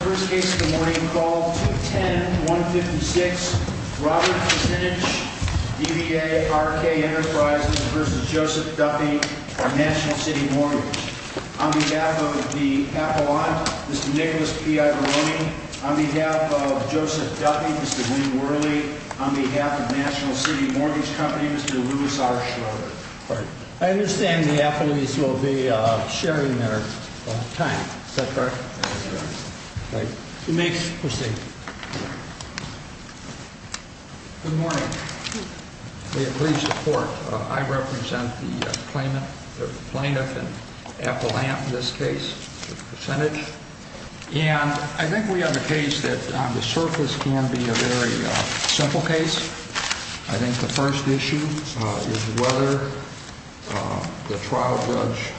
First case of the morning, call 210-156, Robert Krasinecz, DBA, RK Enterprises v. Joseph Duffy, National City Mortgage. On behalf of the appellant, Mr. Nicholas P. Ibarroni. On behalf of Joseph Duffy, Mr. Wayne Worley. On behalf of National City Mortgage Company, Mr. Louis R. Schroeder. I understand the appellees will be sharing their time. Is that correct? Yes, sir. Right. You may proceed. Good morning. May it please the court, I represent the plaintiff and appellant in this case, the percentage. And I think we have a case that on the surface can be a very simple case. I think the first issue is whether the trial judge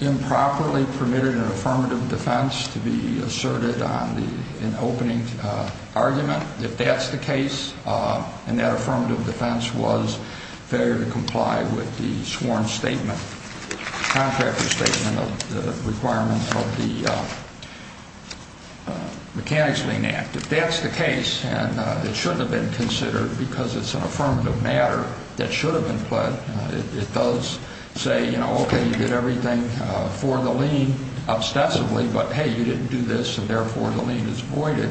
improperly permitted an affirmative defense to be asserted on the opening argument. If that's the case, and that affirmative defense was failure to comply with the sworn statement, contractor statement of the requirements of the Mechanics Lien Act. If that's the case, and it shouldn't have been considered because it's an affirmative matter that should have been pled, it does say, you know, okay, you did everything for the lien, obsessively, but hey, you didn't do this, and therefore the lien is voided.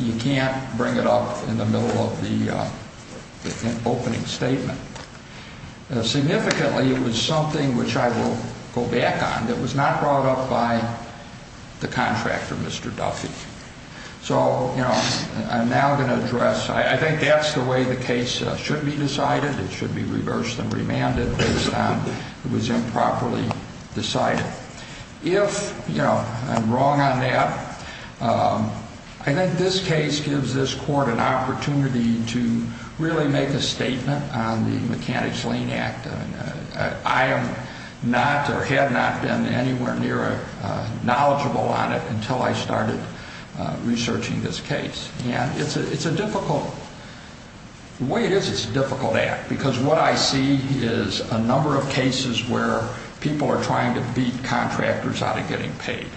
You can't bring it up in the middle of the opening statement. Significantly, it was something which I will go back on that was not brought up by the contractor, Mr. Duffy. So, you know, I'm now going to address, I think that's the way the case should be decided. It should be reversed and remanded based on it was improperly decided. If, you know, I'm wrong on that, I think this case gives this court an opportunity to really make a statement on the Mechanics Lien Act. I am not or have not been anywhere near knowledgeable on it until I started researching this case. And it's a difficult, the way it is, it's a difficult act because what I see is a number of cases where people are trying to beat contractors out of getting paid.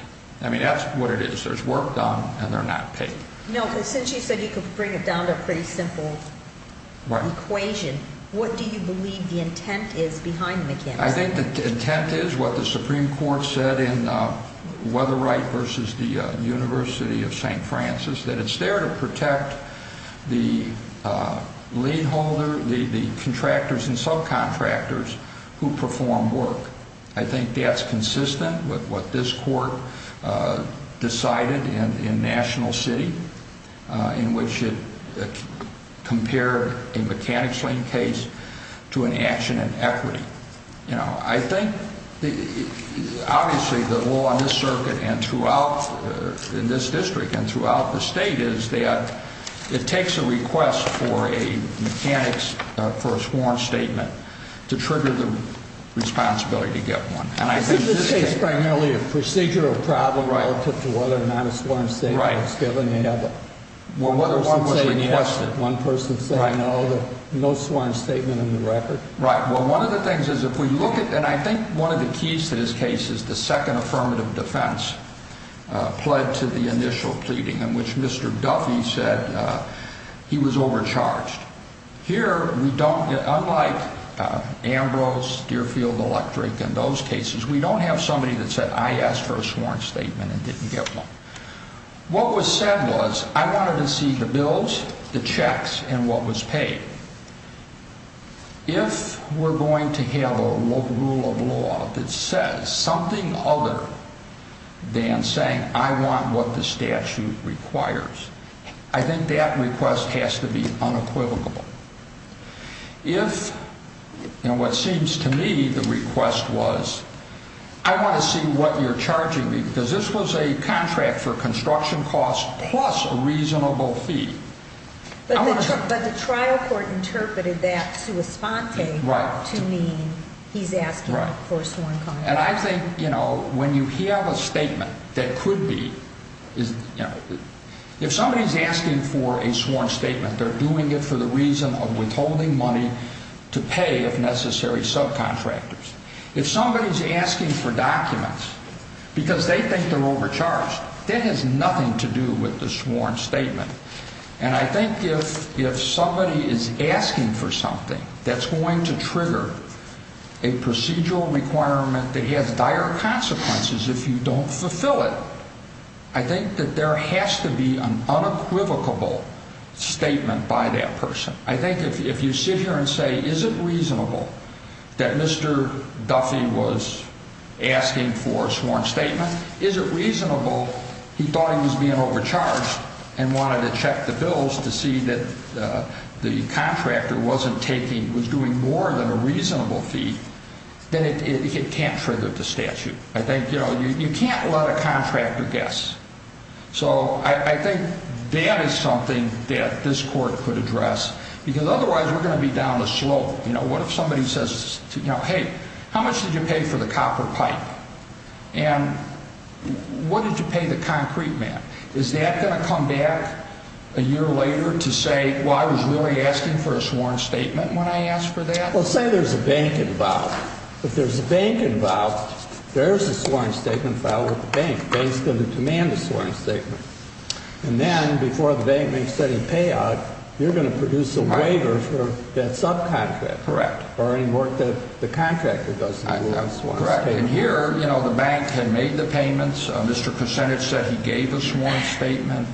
I mean, that's what it is. There's work done, and they're not paid. No, but since you said you could bring it down to a pretty simple equation, what do you believe the intent is behind the Mechanics? I think the intent is what the Supreme Court said in Weatheright v. The University of St. Francis, that it's there to protect the lien holder, the contractors and subcontractors who perform work. I think that's consistent with what this court decided in National City, in which it compared a Mechanics lien case to an action in equity. I think, obviously, the law in this circuit and throughout, in this district and throughout the state is that it takes a request for a Mechanics, for a sworn statement, to trigger the responsibility to get one. Is this case primarily a procedural problem relative to whether or not a sworn statement was given? Right. One person saying yes, one person saying no, no sworn statement in the record. Right. Well, one of the things is if we look at, and I think one of the keys to this case is the second affirmative defense, pled to the initial pleading in which Mr. Duffy said he was overcharged. Here, we don't get, unlike Ambrose, Deerfield Electric and those cases, we don't have somebody that said, I asked for a sworn statement and didn't get one. What was said was I wanted to see the bills, the checks and what was paid. If we're going to have a rule of law that says something other than saying I want what the statute requires, I think that request has to be unequivocal. If, and what seems to me the request was, I want to see what you're charging me because this was a contract for construction costs plus a reasonable fee. But the trial court interpreted that sua sponte to mean he's asking for a sworn contract. And I think, you know, when you have a statement that could be, you know, if somebody's asking for a sworn statement, they're doing it for the reason of withholding money to pay, if necessary, subcontractors. If somebody's asking for documents because they think they're overcharged, that has nothing to do with the sworn statement. And I think if somebody is asking for something that's going to trigger a procedural requirement that has dire consequences if you don't fulfill it, I think that there has to be an unequivocal statement by that person. I think if you sit here and say, is it reasonable that Mr. Duffy was asking for a sworn statement? Is it reasonable he thought he was being overcharged and wanted to check the bills to see that the contractor wasn't taking, was doing more than a reasonable fee, then it can't trigger the statute. I think, you know, you can't let a contractor guess. So I think that is something that this court could address because otherwise we're going to be down the slope. You know, what if somebody says, hey, how much did you pay for the copper pipe? And what did you pay the concrete man? Is that going to come back a year later to say, well, I was really asking for a sworn statement when I asked for that? Well, say there's a bank involved. If there's a bank involved, there's a sworn statement filed with the bank. Bank's going to demand a sworn statement. And then before the bank makes any payout, you're going to produce a waiver for that subcontractor. Correct. Or any work that the contractor does. Correct. And here, you know, the bank had made the payments. Mr. Kucinich said he gave a sworn statement.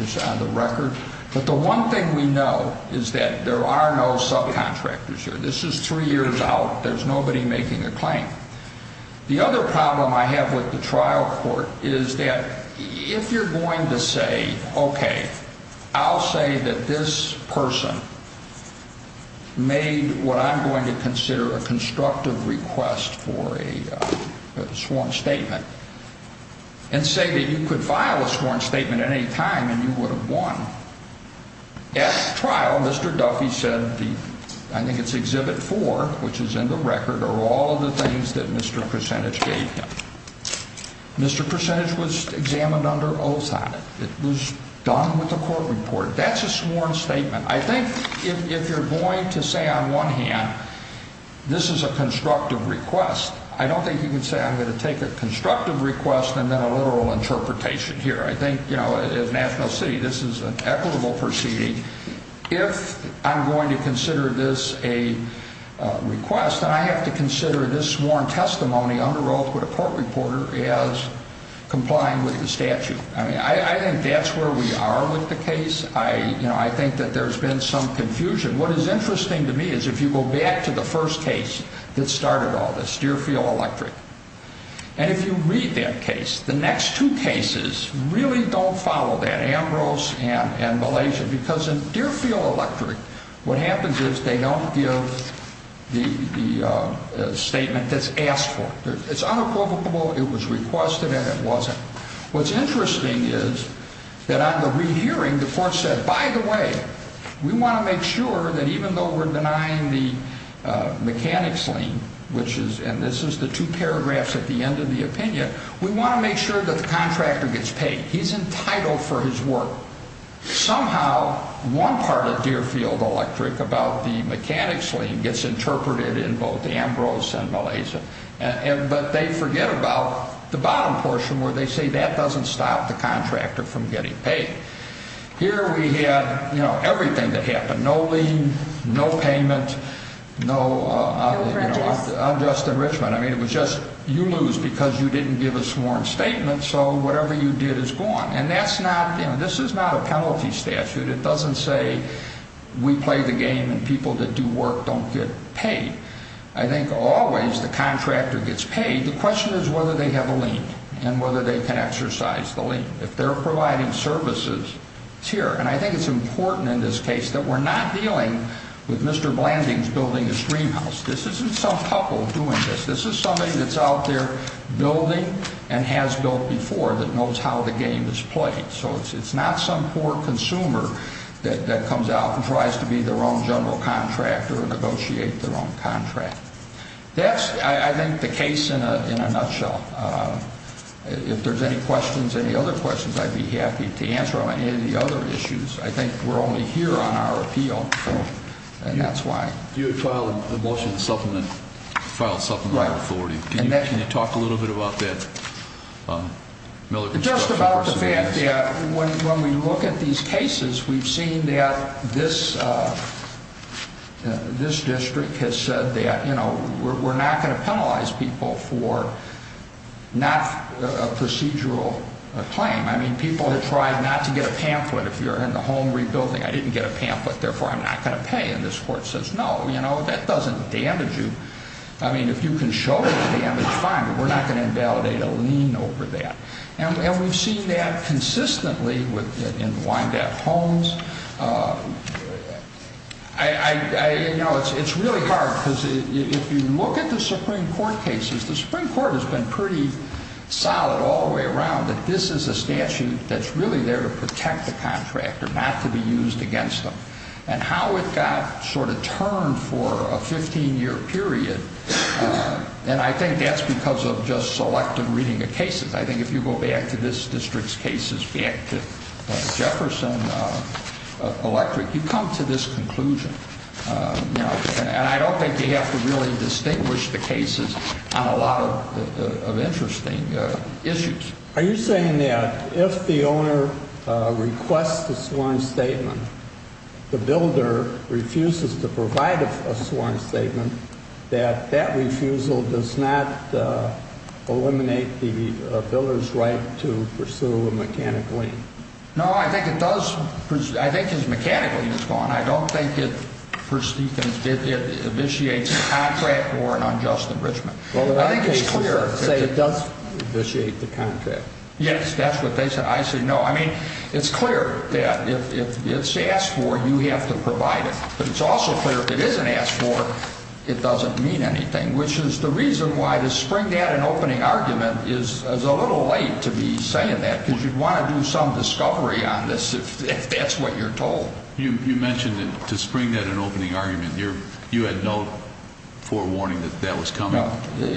It's on the record. But the one thing we know is that there are no subcontractors here. This is three years out. There's nobody making a claim. The other problem I have with the trial court is that if you're going to say, okay, I'll say that this person made what I'm going to consider a constructive request for a sworn statement and say that you could file a sworn statement at any time and you would have won. At the trial, Mr. Duffy said, I think it's Exhibit 4, which is in the record, are all of the things that Mr. Kucinich gave him. Mr. Kucinich was examined under oath on it. It was done with the court report. That's a sworn statement. I think if you're going to say on one hand, this is a constructive request, I don't think you can say I'm going to take a constructive request and then a literal interpretation here. I think, you know, at National City, this is an equitable proceeding. If I'm going to consider this a request, then I have to consider this sworn testimony under oath with a court reporter as complying with the statute. I think that's where we are with the case. I think that there's been some confusion. What is interesting to me is if you go back to the first case that started all this, Deerfield Electric, and if you read that case, the next two cases really don't follow that, Ambrose and Malaysia, because in Deerfield Electric, what happens is they don't give the statement that's asked for. It's unapprovable. It was requested and it wasn't. What's interesting is that on the rehearing, the court said, by the way, we want to make sure that even though we're denying the mechanics lien, and this is the two paragraphs at the end of the opinion, we want to make sure that the contractor gets paid. He's entitled for his work. Somehow, one part of Deerfield Electric about the mechanics lien gets interpreted in both Ambrose and Malaysia, but they forget about the bottom portion where they say that doesn't stop the contractor from getting paid. Here we have everything that happened, no lien, no payment, no unjust enrichment. I mean, it was just you lose because you didn't give a sworn statement, so whatever you did is gone. And this is not a penalty statute. It doesn't say we play the game and people that do work don't get paid. I think always the contractor gets paid. The question is whether they have a lien and whether they can exercise the lien. If they're providing services, it's here. And I think it's important in this case that we're not dealing with Mr. Blanding's building a stream house. This isn't some couple doing this. This is somebody that's out there building and has built before that knows how the game is played. So it's not some poor consumer that comes out and tries to be their own general contractor or negotiate their own contract. That's, I think, the case in a nutshell. If there's any questions, any other questions, I'd be happy to answer on any of the other issues. I think we're only here on our appeal, and that's why. You had filed a motion to file a supplement of authority. Can you talk a little bit about that? Just about the fact that when we look at these cases, we've seen that this district has said that, you know, we're not going to penalize people for not a procedural claim. I mean, people have tried not to get a pamphlet. If you're in the home rebuilding, I didn't get a pamphlet, therefore I'm not going to pay. And this court says, no, you know, that doesn't damage you. I mean, if you can show that damage, fine, but we're not going to invalidate a lien over that. And we've seen that consistently in Wyandotte homes. You know, it's really hard, because if you look at the Supreme Court cases, the Supreme Court has been pretty solid all the way around that this is a statute that's really there to protect the contractor, not to be used against them. And how it got sort of turned for a 15-year period, and I think that's because of just selective reading of cases. I think if you go back to this district's cases, back to Jefferson Electric, you come to this conclusion. And I don't think you have to really distinguish the cases on a lot of interesting issues. Are you saying that if the owner requests a sworn statement, the builder refuses to provide a sworn statement, that that refusal does not eliminate the builder's right to pursue a mechanical lien? No, I think it does. I think his mechanical lien is gone. I don't think it initiates a contract or an unjust enrichment. I think it's clear. So you're saying it does initiate the contract? Yes, that's what they say. I say no. I mean, it's clear that if it's asked for, you have to provide it. But it's also clear if it isn't asked for, it doesn't mean anything, which is the reason why the spring debt and opening argument is a little late to be saying that, because you'd want to do some discovery on this if that's what you're told. You mentioned that to spring debt and opening argument, you had no forewarning that that was coming? No.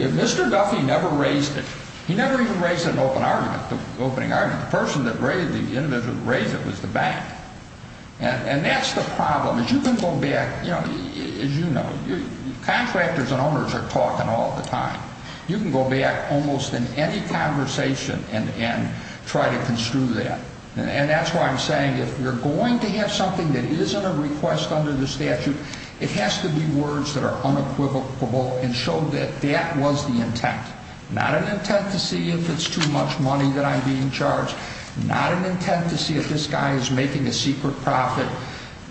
Mr. Duffy never raised it. He never even raised an open argument, the opening argument. The person that raised it, the individual that raised it, was the bank. And that's the problem. As you can go back, as you know, contractors and owners are talking all the time. You can go back almost in any conversation and try to construe that. And that's why I'm saying if you're going to have something that isn't a request under the statute, it has to be words that are unequivocal and show that that was the intent. Not an intent to see if it's too much money that I'm being charged. Not an intent to see if this guy is making a secret profit.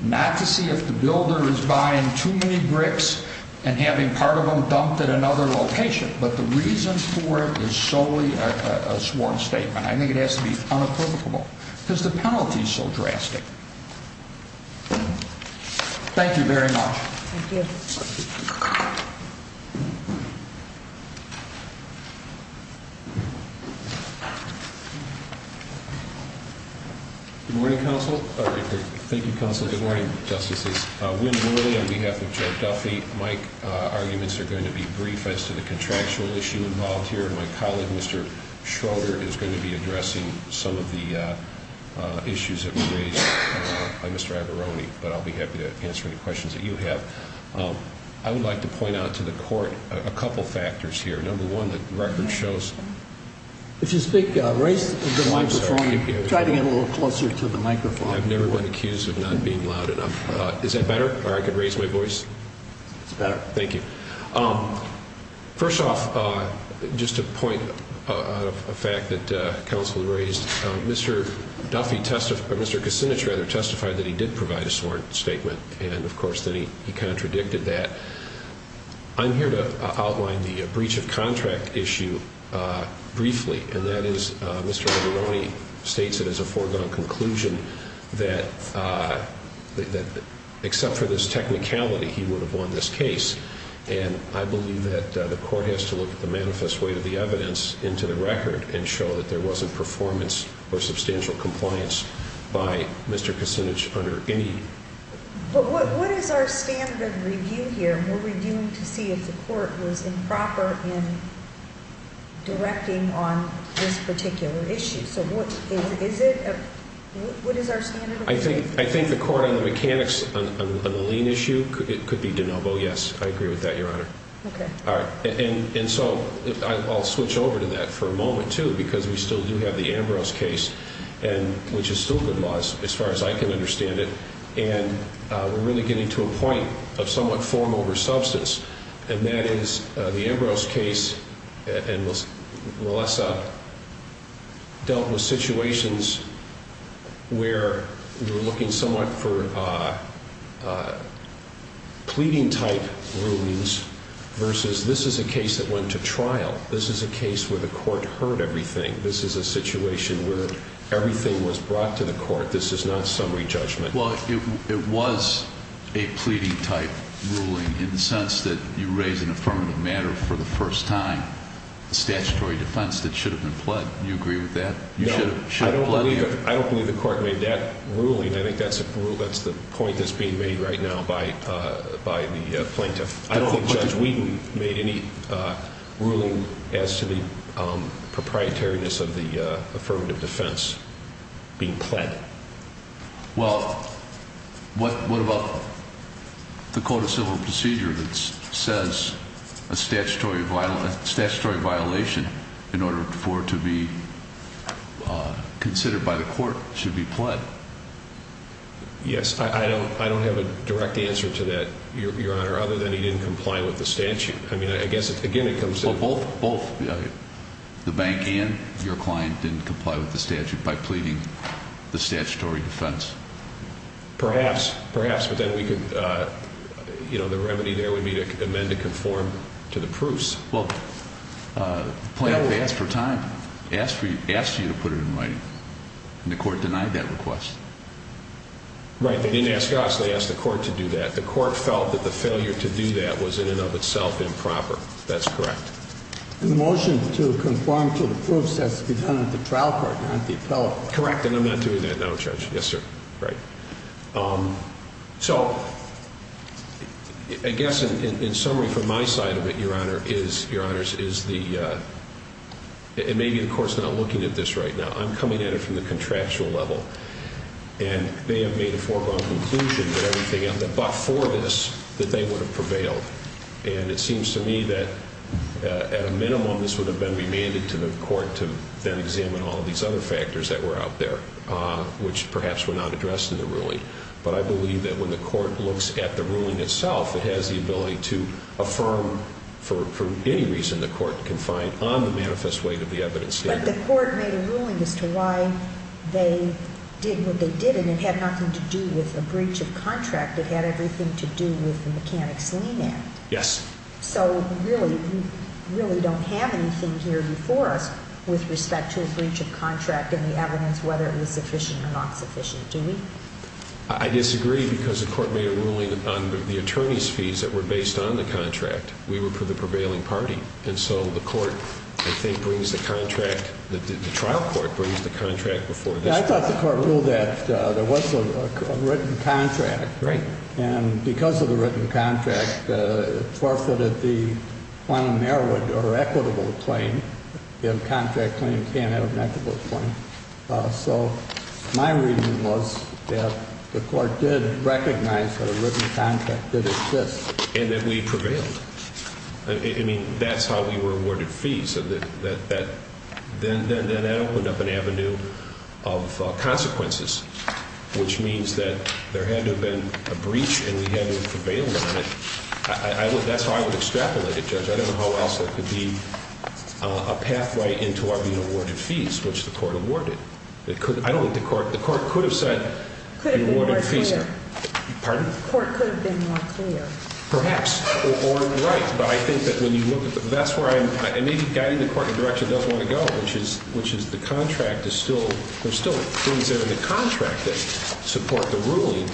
Not to see if the builder is buying too many bricks and having part of them dumped at another location. But the reason for it is solely a sworn statement. I think it has to be unequivocal because the penalty is so drastic. Thank you very much. Thank you. Good morning, Counsel. Thank you, Counsel. Good morning, Justices. Wynn Wooley on behalf of Joe Duffy. My arguments are going to be brief as to the contractual issue involved here. My colleague, Mr. Schroeder, is going to be addressing some of the issues that were raised by Mr. Aberroni. But I'll be happy to answer any questions that you have. I would like to point out to the court a couple factors here. Number one, the record shows. If you speak, raise the microphone. I'm sorry. Try to get a little closer to the microphone. I've never been accused of not being loud enough. Is that better? Or I could raise my voice? It's better. Thank you. First off, just to point out a fact that Counsel raised. Mr. Duffy testified, or Mr. Kucinich rather, testified that he did provide a sworn statement. And, of course, then he contradicted that. I'm here to outline the breach of contract issue briefly. And that is Mr. Aberroni states it as a foregone conclusion that except for this technicality, he would have won this case. And I believe that the court has to look at the manifest weight of the evidence into the record and show that there wasn't performance or substantial compliance by Mr. Kucinich under any. But what is our standard of review here? We're reviewing to see if the court was improper in directing on this particular issue. So what is it? What is our standard of review? I think the court on the mechanics, on the lien issue, it could be de novo, yes. I agree with that, Your Honor. Okay. All right. And so I'll switch over to that for a moment, too, because we still do have the Ambrose case, which is still good laws as far as I can understand it. And we're really getting to a point of somewhat form over substance. And that is the Ambrose case and Melissa dealt with situations where we're looking somewhat for pleading type rulings versus this is a case that went to trial. This is a case where the court heard everything. This is a situation where everything was brought to the court. This is not summary judgment. Well, it was a pleading type ruling in the sense that you raise an affirmative matter for the first time, a statutory defense that should have been pled. Do you agree with that? I don't believe the court made that ruling. I think that's the point that's being made right now by the plaintiff. I don't think Judge Whedon made any ruling as to the proprietoriness of the affirmative defense being pled. Well, what about the code of civil procedure that says a statutory violation in order for it to be considered by the court should be pled? Yes. I don't have a direct answer to that, Your Honor, other than he didn't comply with the statute. I mean, I guess, again, it comes to both. The bank and your client didn't comply with the statute by pleading the statutory defense. Perhaps. Perhaps. But then we could, you know, the remedy there would be to amend to conform to the proofs. Well, plaintiff asked for time, asked you to put it in writing, and the court denied that request. Right. They didn't ask us. They asked the court to do that. The court felt that the failure to do that was in and of itself improper. That's correct. And the motion to conform to the proofs has to be done at the trial court, not the appellate court. Correct. And I'm not doing that now, Judge. Yes, sir. Right. So, I guess, in summary, from my side of it, Your Honor, is the, and maybe the court's not looking at this right now. I'm coming at it from the contractual level. And they have made a foregone conclusion that everything, but for this, that they would have prevailed. And it seems to me that, at a minimum, this would have been remanded to the court to then examine all of these other factors that were out there, which perhaps were not addressed in the ruling. But I believe that when the court looks at the ruling itself, it has the ability to affirm, for any reason, the court confined on the manifest weight of the evidence standard. But the court made a ruling as to why they did what they did, and it had nothing to do with a breach of contract. It had everything to do with the Mechanics' Lien Act. Yes. So, really, we really don't have anything here before us with respect to a breach of contract and the evidence, whether it was sufficient or not sufficient, do we? I disagree, because the court made a ruling on the attorney's fees that were based on the contract. We were for the prevailing party. And so the court, I think, brings the contract, the trial court brings the contract before this court. Well, I thought the court ruled that there was a written contract. Right. And because of the written contract, it forfeited the quantum merit or equitable claim. A contract claim can't have an equitable claim. So my reasoning was that the court did recognize that a written contract did exist. And that we prevailed. I mean, that's how we were awarded fees. Then that opened up an avenue of consequences, which means that there had to have been a breach and we hadn't prevailed on it. That's how I would extrapolate it, Judge. I don't know how else there could be a pathway into our being awarded fees, which the court awarded. I don't think the court could have said we awarded fees. Could have been more clear. Pardon? The court could have been more clear. Perhaps. Or right. But I think that when you look at the – that's where I'm – and maybe guiding the court in a direction it doesn't want to go, which is the contract is still – there's still things in the contract that support the ruling.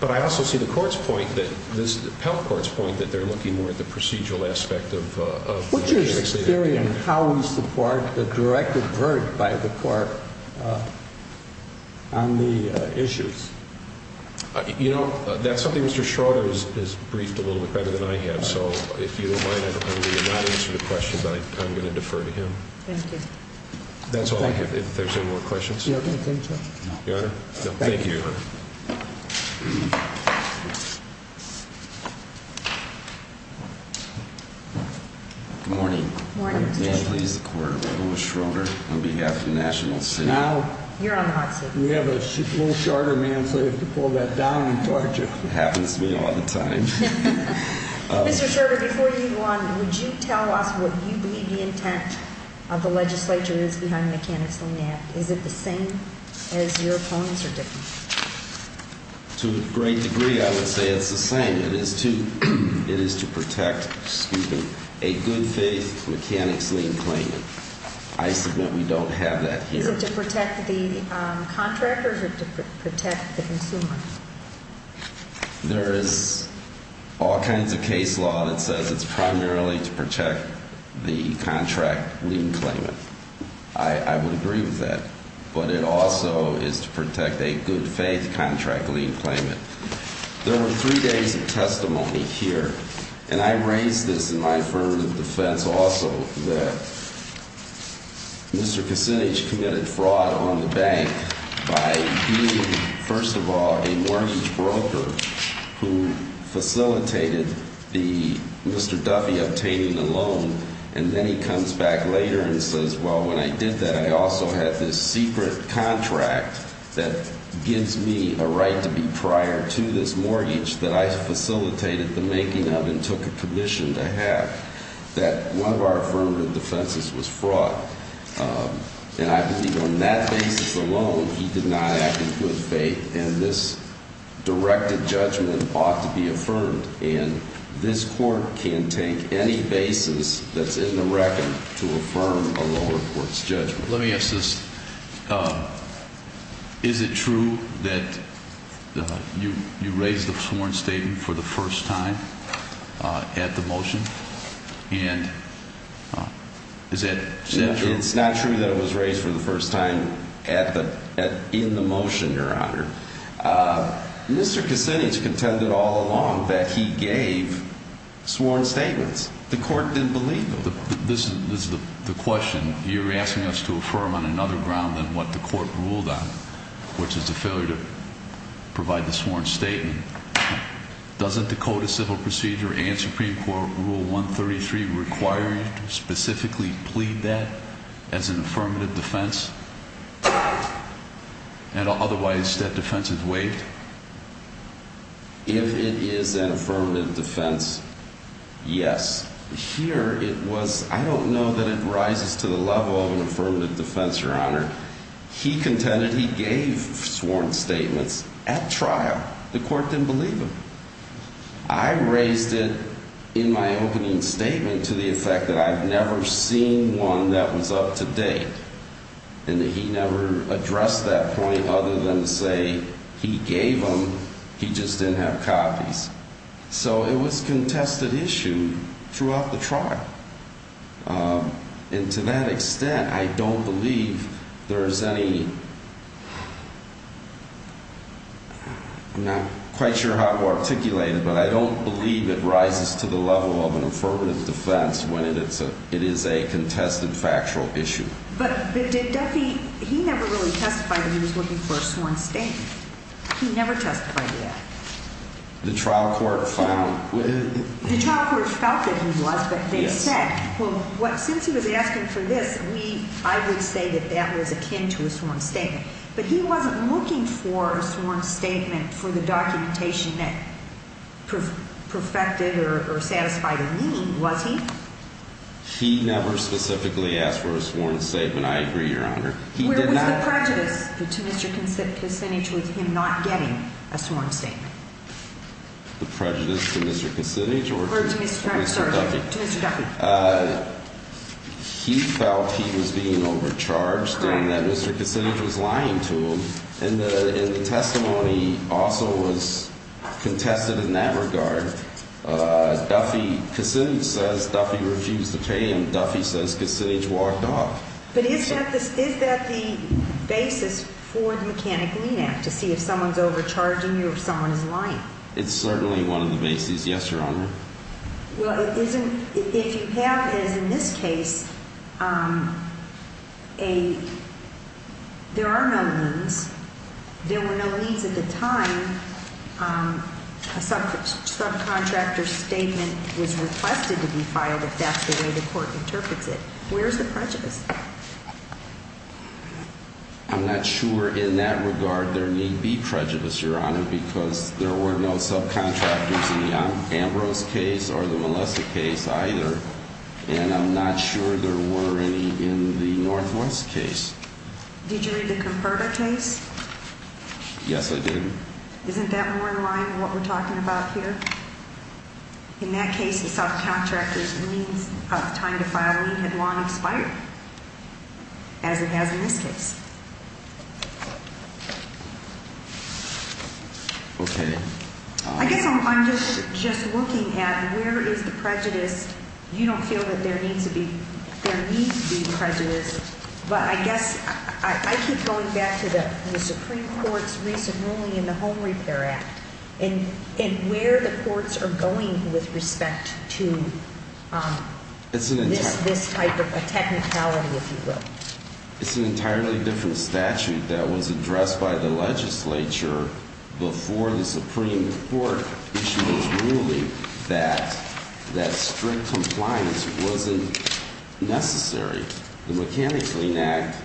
But I also see the court's point that – the appellate court's point that they're looking more at the procedural aspect of the case. What's your theory on how we support the directed verdict by the court on the issues? You know, that's something Mr. Schroeder has briefed a little bit better than I have. So if you don't mind, I'm going to not answer the question, but I'm going to defer to him. Thank you. That's all I have. If there's any more questions. Do you have anything, Judge? No. Your Honor? No. Thank you, Your Honor. Good morning. Good morning, Mr. Chief. My name is Lewis Schroeder on behalf of the National City. Now – You're on the hot seat. We have a little shorter man, so you have to pull that down and torch it. It happens to me all the time. Mr. Schroeder, before you go on, would you tell us what you believe the intent of the legislature is behind the mechanics lien app? Is it the same as your opponent's or different? To a great degree, I would say it's the same. It is to protect, excuse me, a good faith mechanics lien claimant. I submit we don't have that here. Is it to protect the contractor or to protect the consumer? There is all kinds of case law that says it's primarily to protect the contract lien claimant. I would agree with that. But it also is to protect a good faith contract lien claimant. There are three days of testimony here, and I raised this in my affirmative defense also, that Mr. Kucinich committed fraud on the bank by being, first of all, a mortgage broker who facilitated Mr. Duffy obtaining the loan. And then he comes back later and says, well, when I did that, I also had this secret contract that gives me a right to be prior to this mortgage that I facilitated the making of and took a commission to have. That one of our affirmative defenses was fraud. And I believe on that basis alone, he did not act in good faith, and this directed judgment ought to be affirmed. And this court can take any basis that's in the record to affirm a lower court's judgment. Let me ask this. Is it true that you raised the sworn statement for the first time at the motion? And is that true? It's not true that it was raised for the first time in the motion, Your Honor. Mr. Kucinich contended all along that he gave sworn statements. The court didn't believe him. But this is the question. You're asking us to affirm on another ground than what the court ruled on, which is the failure to provide the sworn statement. Doesn't the Code of Civil Procedure and Supreme Court Rule 133 require you to specifically plead that as an affirmative defense? And otherwise, that defense is waived? If it is an affirmative defense, yes. Here it was, I don't know that it rises to the level of an affirmative defense, Your Honor. He contended he gave sworn statements at trial. The court didn't believe him. I raised it in my opening statement to the effect that I've never seen one that was up to date. And he never addressed that point other than to say he gave them, he just didn't have copies. So it was a contested issue throughout the trial. And to that extent, I don't believe there is any, I'm not quite sure how to articulate it, but I don't believe it rises to the level of an affirmative defense when it is a contested factual issue. But did Duffy, he never really testified that he was looking for a sworn statement. He never testified to that. The trial court found. The trial court felt that he was, but they said, well, since he was asking for this, I would say that that was akin to a sworn statement. But he wasn't looking for a sworn statement for the documentation that perfected or satisfied a need, was he? He never specifically asked for a sworn statement, I agree, Your Honor. Where was the prejudice to Mr. Kucinich with him not getting a sworn statement? The prejudice to Mr. Kucinich or to Mr. Duffy? To Mr. Duffy. He felt he was being overcharged and that Mr. Kucinich was lying to him. And the testimony also was contested in that regard. Duffy, Kucinich says Duffy refused to pay him. Duffy says Kucinich walked off. But is that the basis for the Mechanic Lean Act to see if someone's overcharging you or if someone is lying? It's certainly one of the bases, yes, Your Honor. Well, if you have, as in this case, there are no leans. There were no leans at the time. A subcontractor's statement was requested to be filed if that's the way the court interprets it. Where is the prejudice? I'm not sure in that regard there need be prejudice, Your Honor, because there were no subcontractors in the Ambrose case or the Molessa case either. And I'm not sure there were any in the Northwest case. Did you read the Converter case? Yes, I did. Isn't that more in line with what we're talking about here? In that case, the subcontractor's leans of time to file a lien had long expired, as it has in this case. Okay. I guess I'm just looking at where is the prejudice. You don't feel that there needs to be prejudice, but I guess I keep going back to the Supreme Court's recent ruling in the Home Repair Act and where the courts are going with respect to this type of technicality, if you will. It's an entirely different statute that was addressed by the legislature before the Supreme Court, which was ruling that strict compliance wasn't necessary. The Mechanics Lien Act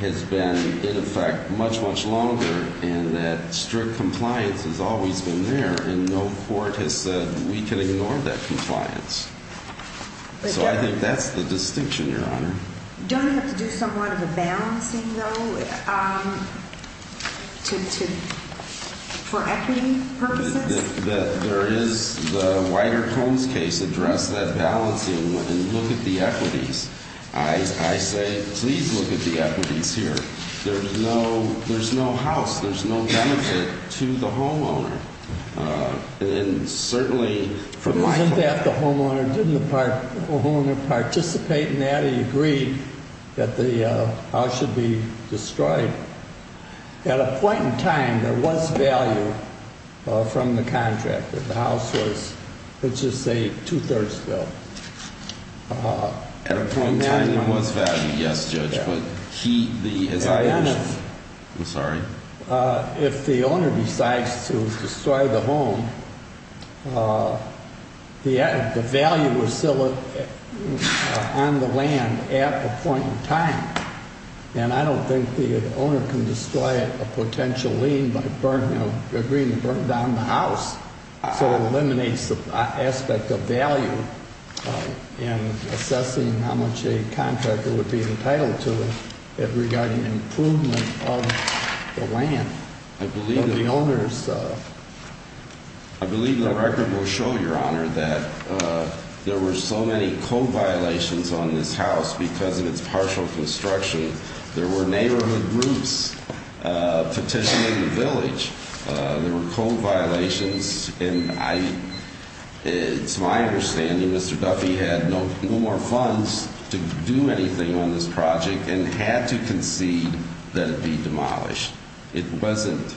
has been, in effect, much, much longer in that strict compliance has always been there, and no court has said we can ignore that compliance. So I think that's the distinction, Your Honor. Doesn't it have to do somewhat of a balancing, though, for equity purposes? There is the wider Combs case addressed that balancing, and look at the equities. I say please look at the equities here. There's no house. There's no benefit to the homeowner. And certainly from my point of view. Isn't that the homeowner didn't participate in that? He agreed that the house should be destroyed. At a point in time, there was value from the contractor. The house was, let's just say, two-thirds built. At a point in time, there was value, yes, Judge, but he, as I understand, I'm sorry. If the owner decides to destroy the home, the value was still on the land at a point in time. And I don't think the owner can destroy a potential lien by agreeing to burn down the house. So it eliminates the aspect of value in assessing how much a contractor would be entitled to it regarding improvement of the land. I believe the record will show, Your Honor, that there were so many co-violations on this house because of its partial construction. There were neighborhood groups petitioning the village. There were co-violations, and it's my understanding Mr. Duffy had no more funds to do anything on this project and had to concede that it be demolished. It wasn't.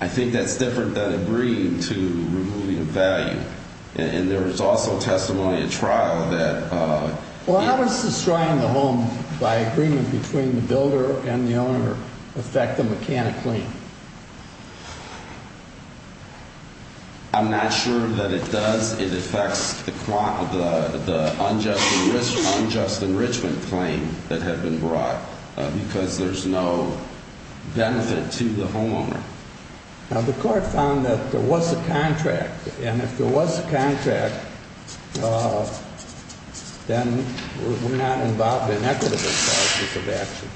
I think that's different than agreeing to removing a value. And there was also testimony at trial that he Well, how does destroying the home by agreement between the builder and the owner affect the mechanic lien? I'm not sure that it does. It affects the unjust enrichment claim that had been brought because there's no benefit to the homeowner. Now, the court found that there was a contract. And if there was a contract, then we're not involved in equitable process of action.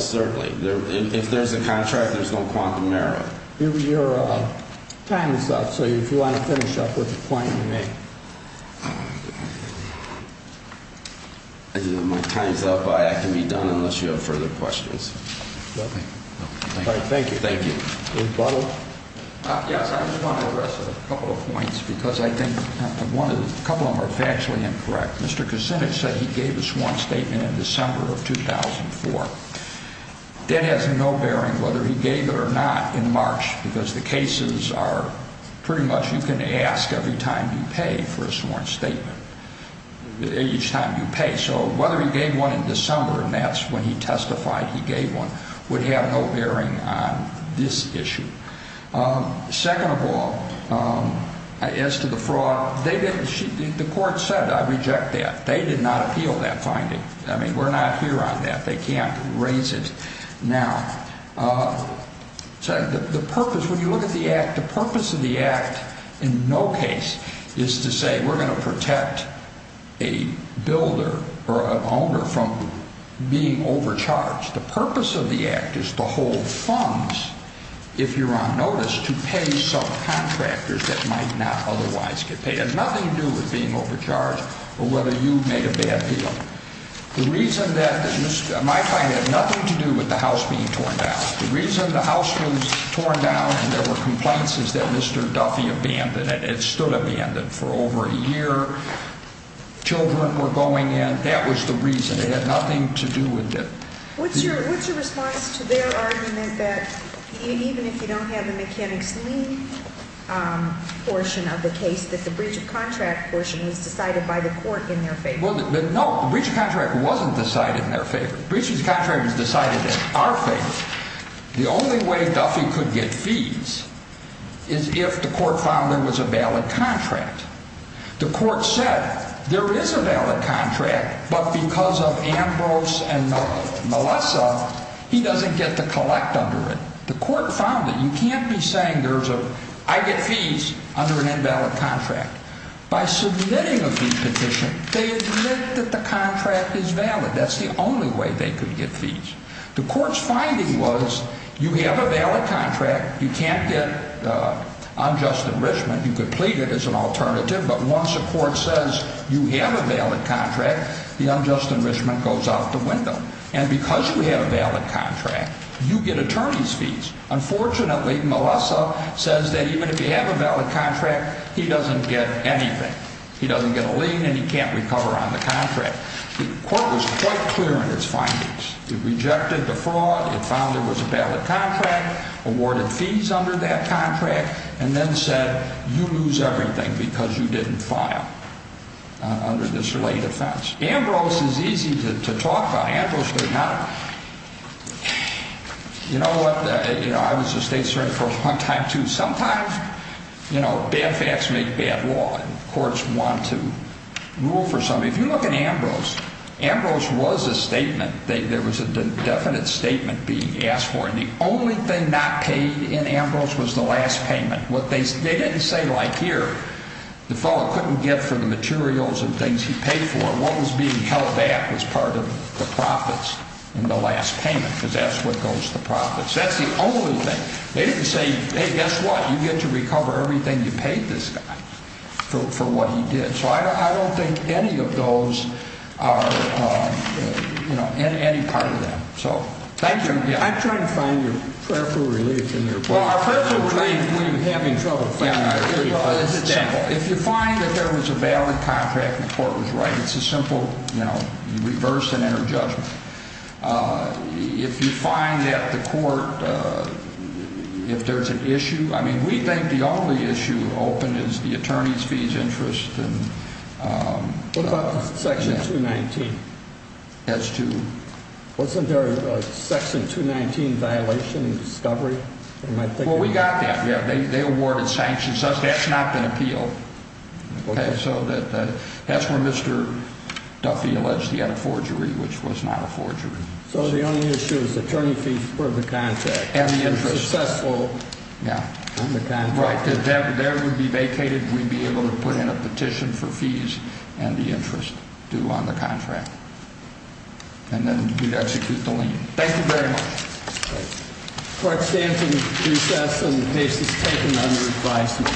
Certainly. If there's a contract, there's no quantum error. Your time is up. So if you want to finish up with a point, you may. My time is up. I can be done unless you have further questions. All right. Thank you. Thank you. Judge Butler? Yes. I just want to address a couple of points because I think a couple of them are factually incorrect. Mr. Kucinich said he gave us one statement in December of 2004. That has no bearing whether he gave it or not in March because the cases are pretty much you can ask every time you pay for a sworn statement, each time you pay. So whether he gave one in December, and that's when he testified he gave one, would have no bearing on this issue. Second of all, as to the fraud, the court said I reject that. They did not appeal that finding. I mean, we're not here on that. They can't raise it now. So the purpose, when you look at the Act, the purpose of the Act in no case is to say we're going to protect a builder or an owner from being overcharged. The purpose of the Act is to hold funds, if you're on notice, to pay subcontractors that might not otherwise get paid. It has nothing to do with being overcharged or whether you've made a bad deal. The reason that, in my time, it had nothing to do with the house being torn down. The reason the house was torn down and there were complaints is that Mr. Duffy abandoned it. It stood abandoned for over a year. Children were going in. That was the reason. It had nothing to do with it. What's your response to their argument that even if you don't have the mechanics lien portion of the case, that the breach of contract portion was decided by the court in their favor? Well, no, the breach of contract wasn't decided in their favor. The breach of contract was decided in our favor. The only way Duffy could get fees is if the court found there was a valid contract. The court said there is a valid contract, but because of Ambrose and Melissa, he doesn't get to collect under it. The court found it. You can't be saying there's a, I get fees under an invalid contract. By submitting a fee petition, they admit that the contract is valid. That's the only way they could get fees. The court's finding was you have a valid contract. You can't get unjust enrichment. You could plead it as an alternative, but once a court says you have a valid contract, the unjust enrichment goes out the window. And because you have a valid contract, you get attorney's fees. Unfortunately, Melissa says that even if you have a valid contract, he doesn't get anything. He doesn't get a lien, and he can't recover on the contract. The court was quite clear in its findings. It rejected the fraud. It found there was a valid contract, awarded fees under that contract, and then said you lose everything because you didn't file under this late offense. Ambrose is easy to talk about. You know what? I was a state attorney for a long time, too. Sometimes, you know, bad facts make bad law, and courts want to rule for something. If you look at Ambrose, Ambrose was a statement. There was a definite statement being asked for, and the only thing not paid in Ambrose was the last payment. What they didn't say like here, the fellow couldn't get for the materials and things he paid for. What was being held back was part of the profits in the last payment, because that's what goes to profits. That's the only thing. They didn't say, hey, guess what? You get to recover everything you paid this guy for what he did. So I don't think any of those are, you know, any part of that. So thank you. I'm trying to find your prayerful relief in your book. Well, our prayerful relief when you're having trouble finding our relief. If you find that there was a valid contract and the court was right, it's a simple, you know, reverse and enter judgment. If you find that the court, if there's an issue, I mean, we think the only issue open is the attorney's fees interest. What about Section 219? As to? Wasn't there a Section 219 violation in discovery? Well, we got that. They awarded sanctions. That's not an appeal. So that's where Mr. Duffy alleged he had a forgery, which was not a forgery. So the only issue is attorney fees for the contract. And the interest. And successful. Yeah. Right. There would be vacated. We'd be able to put in a petition for fees and the interest due on the contract. And then we'd execute the lien. Thank you very much. Court stands in recess and the case is taken under advisement.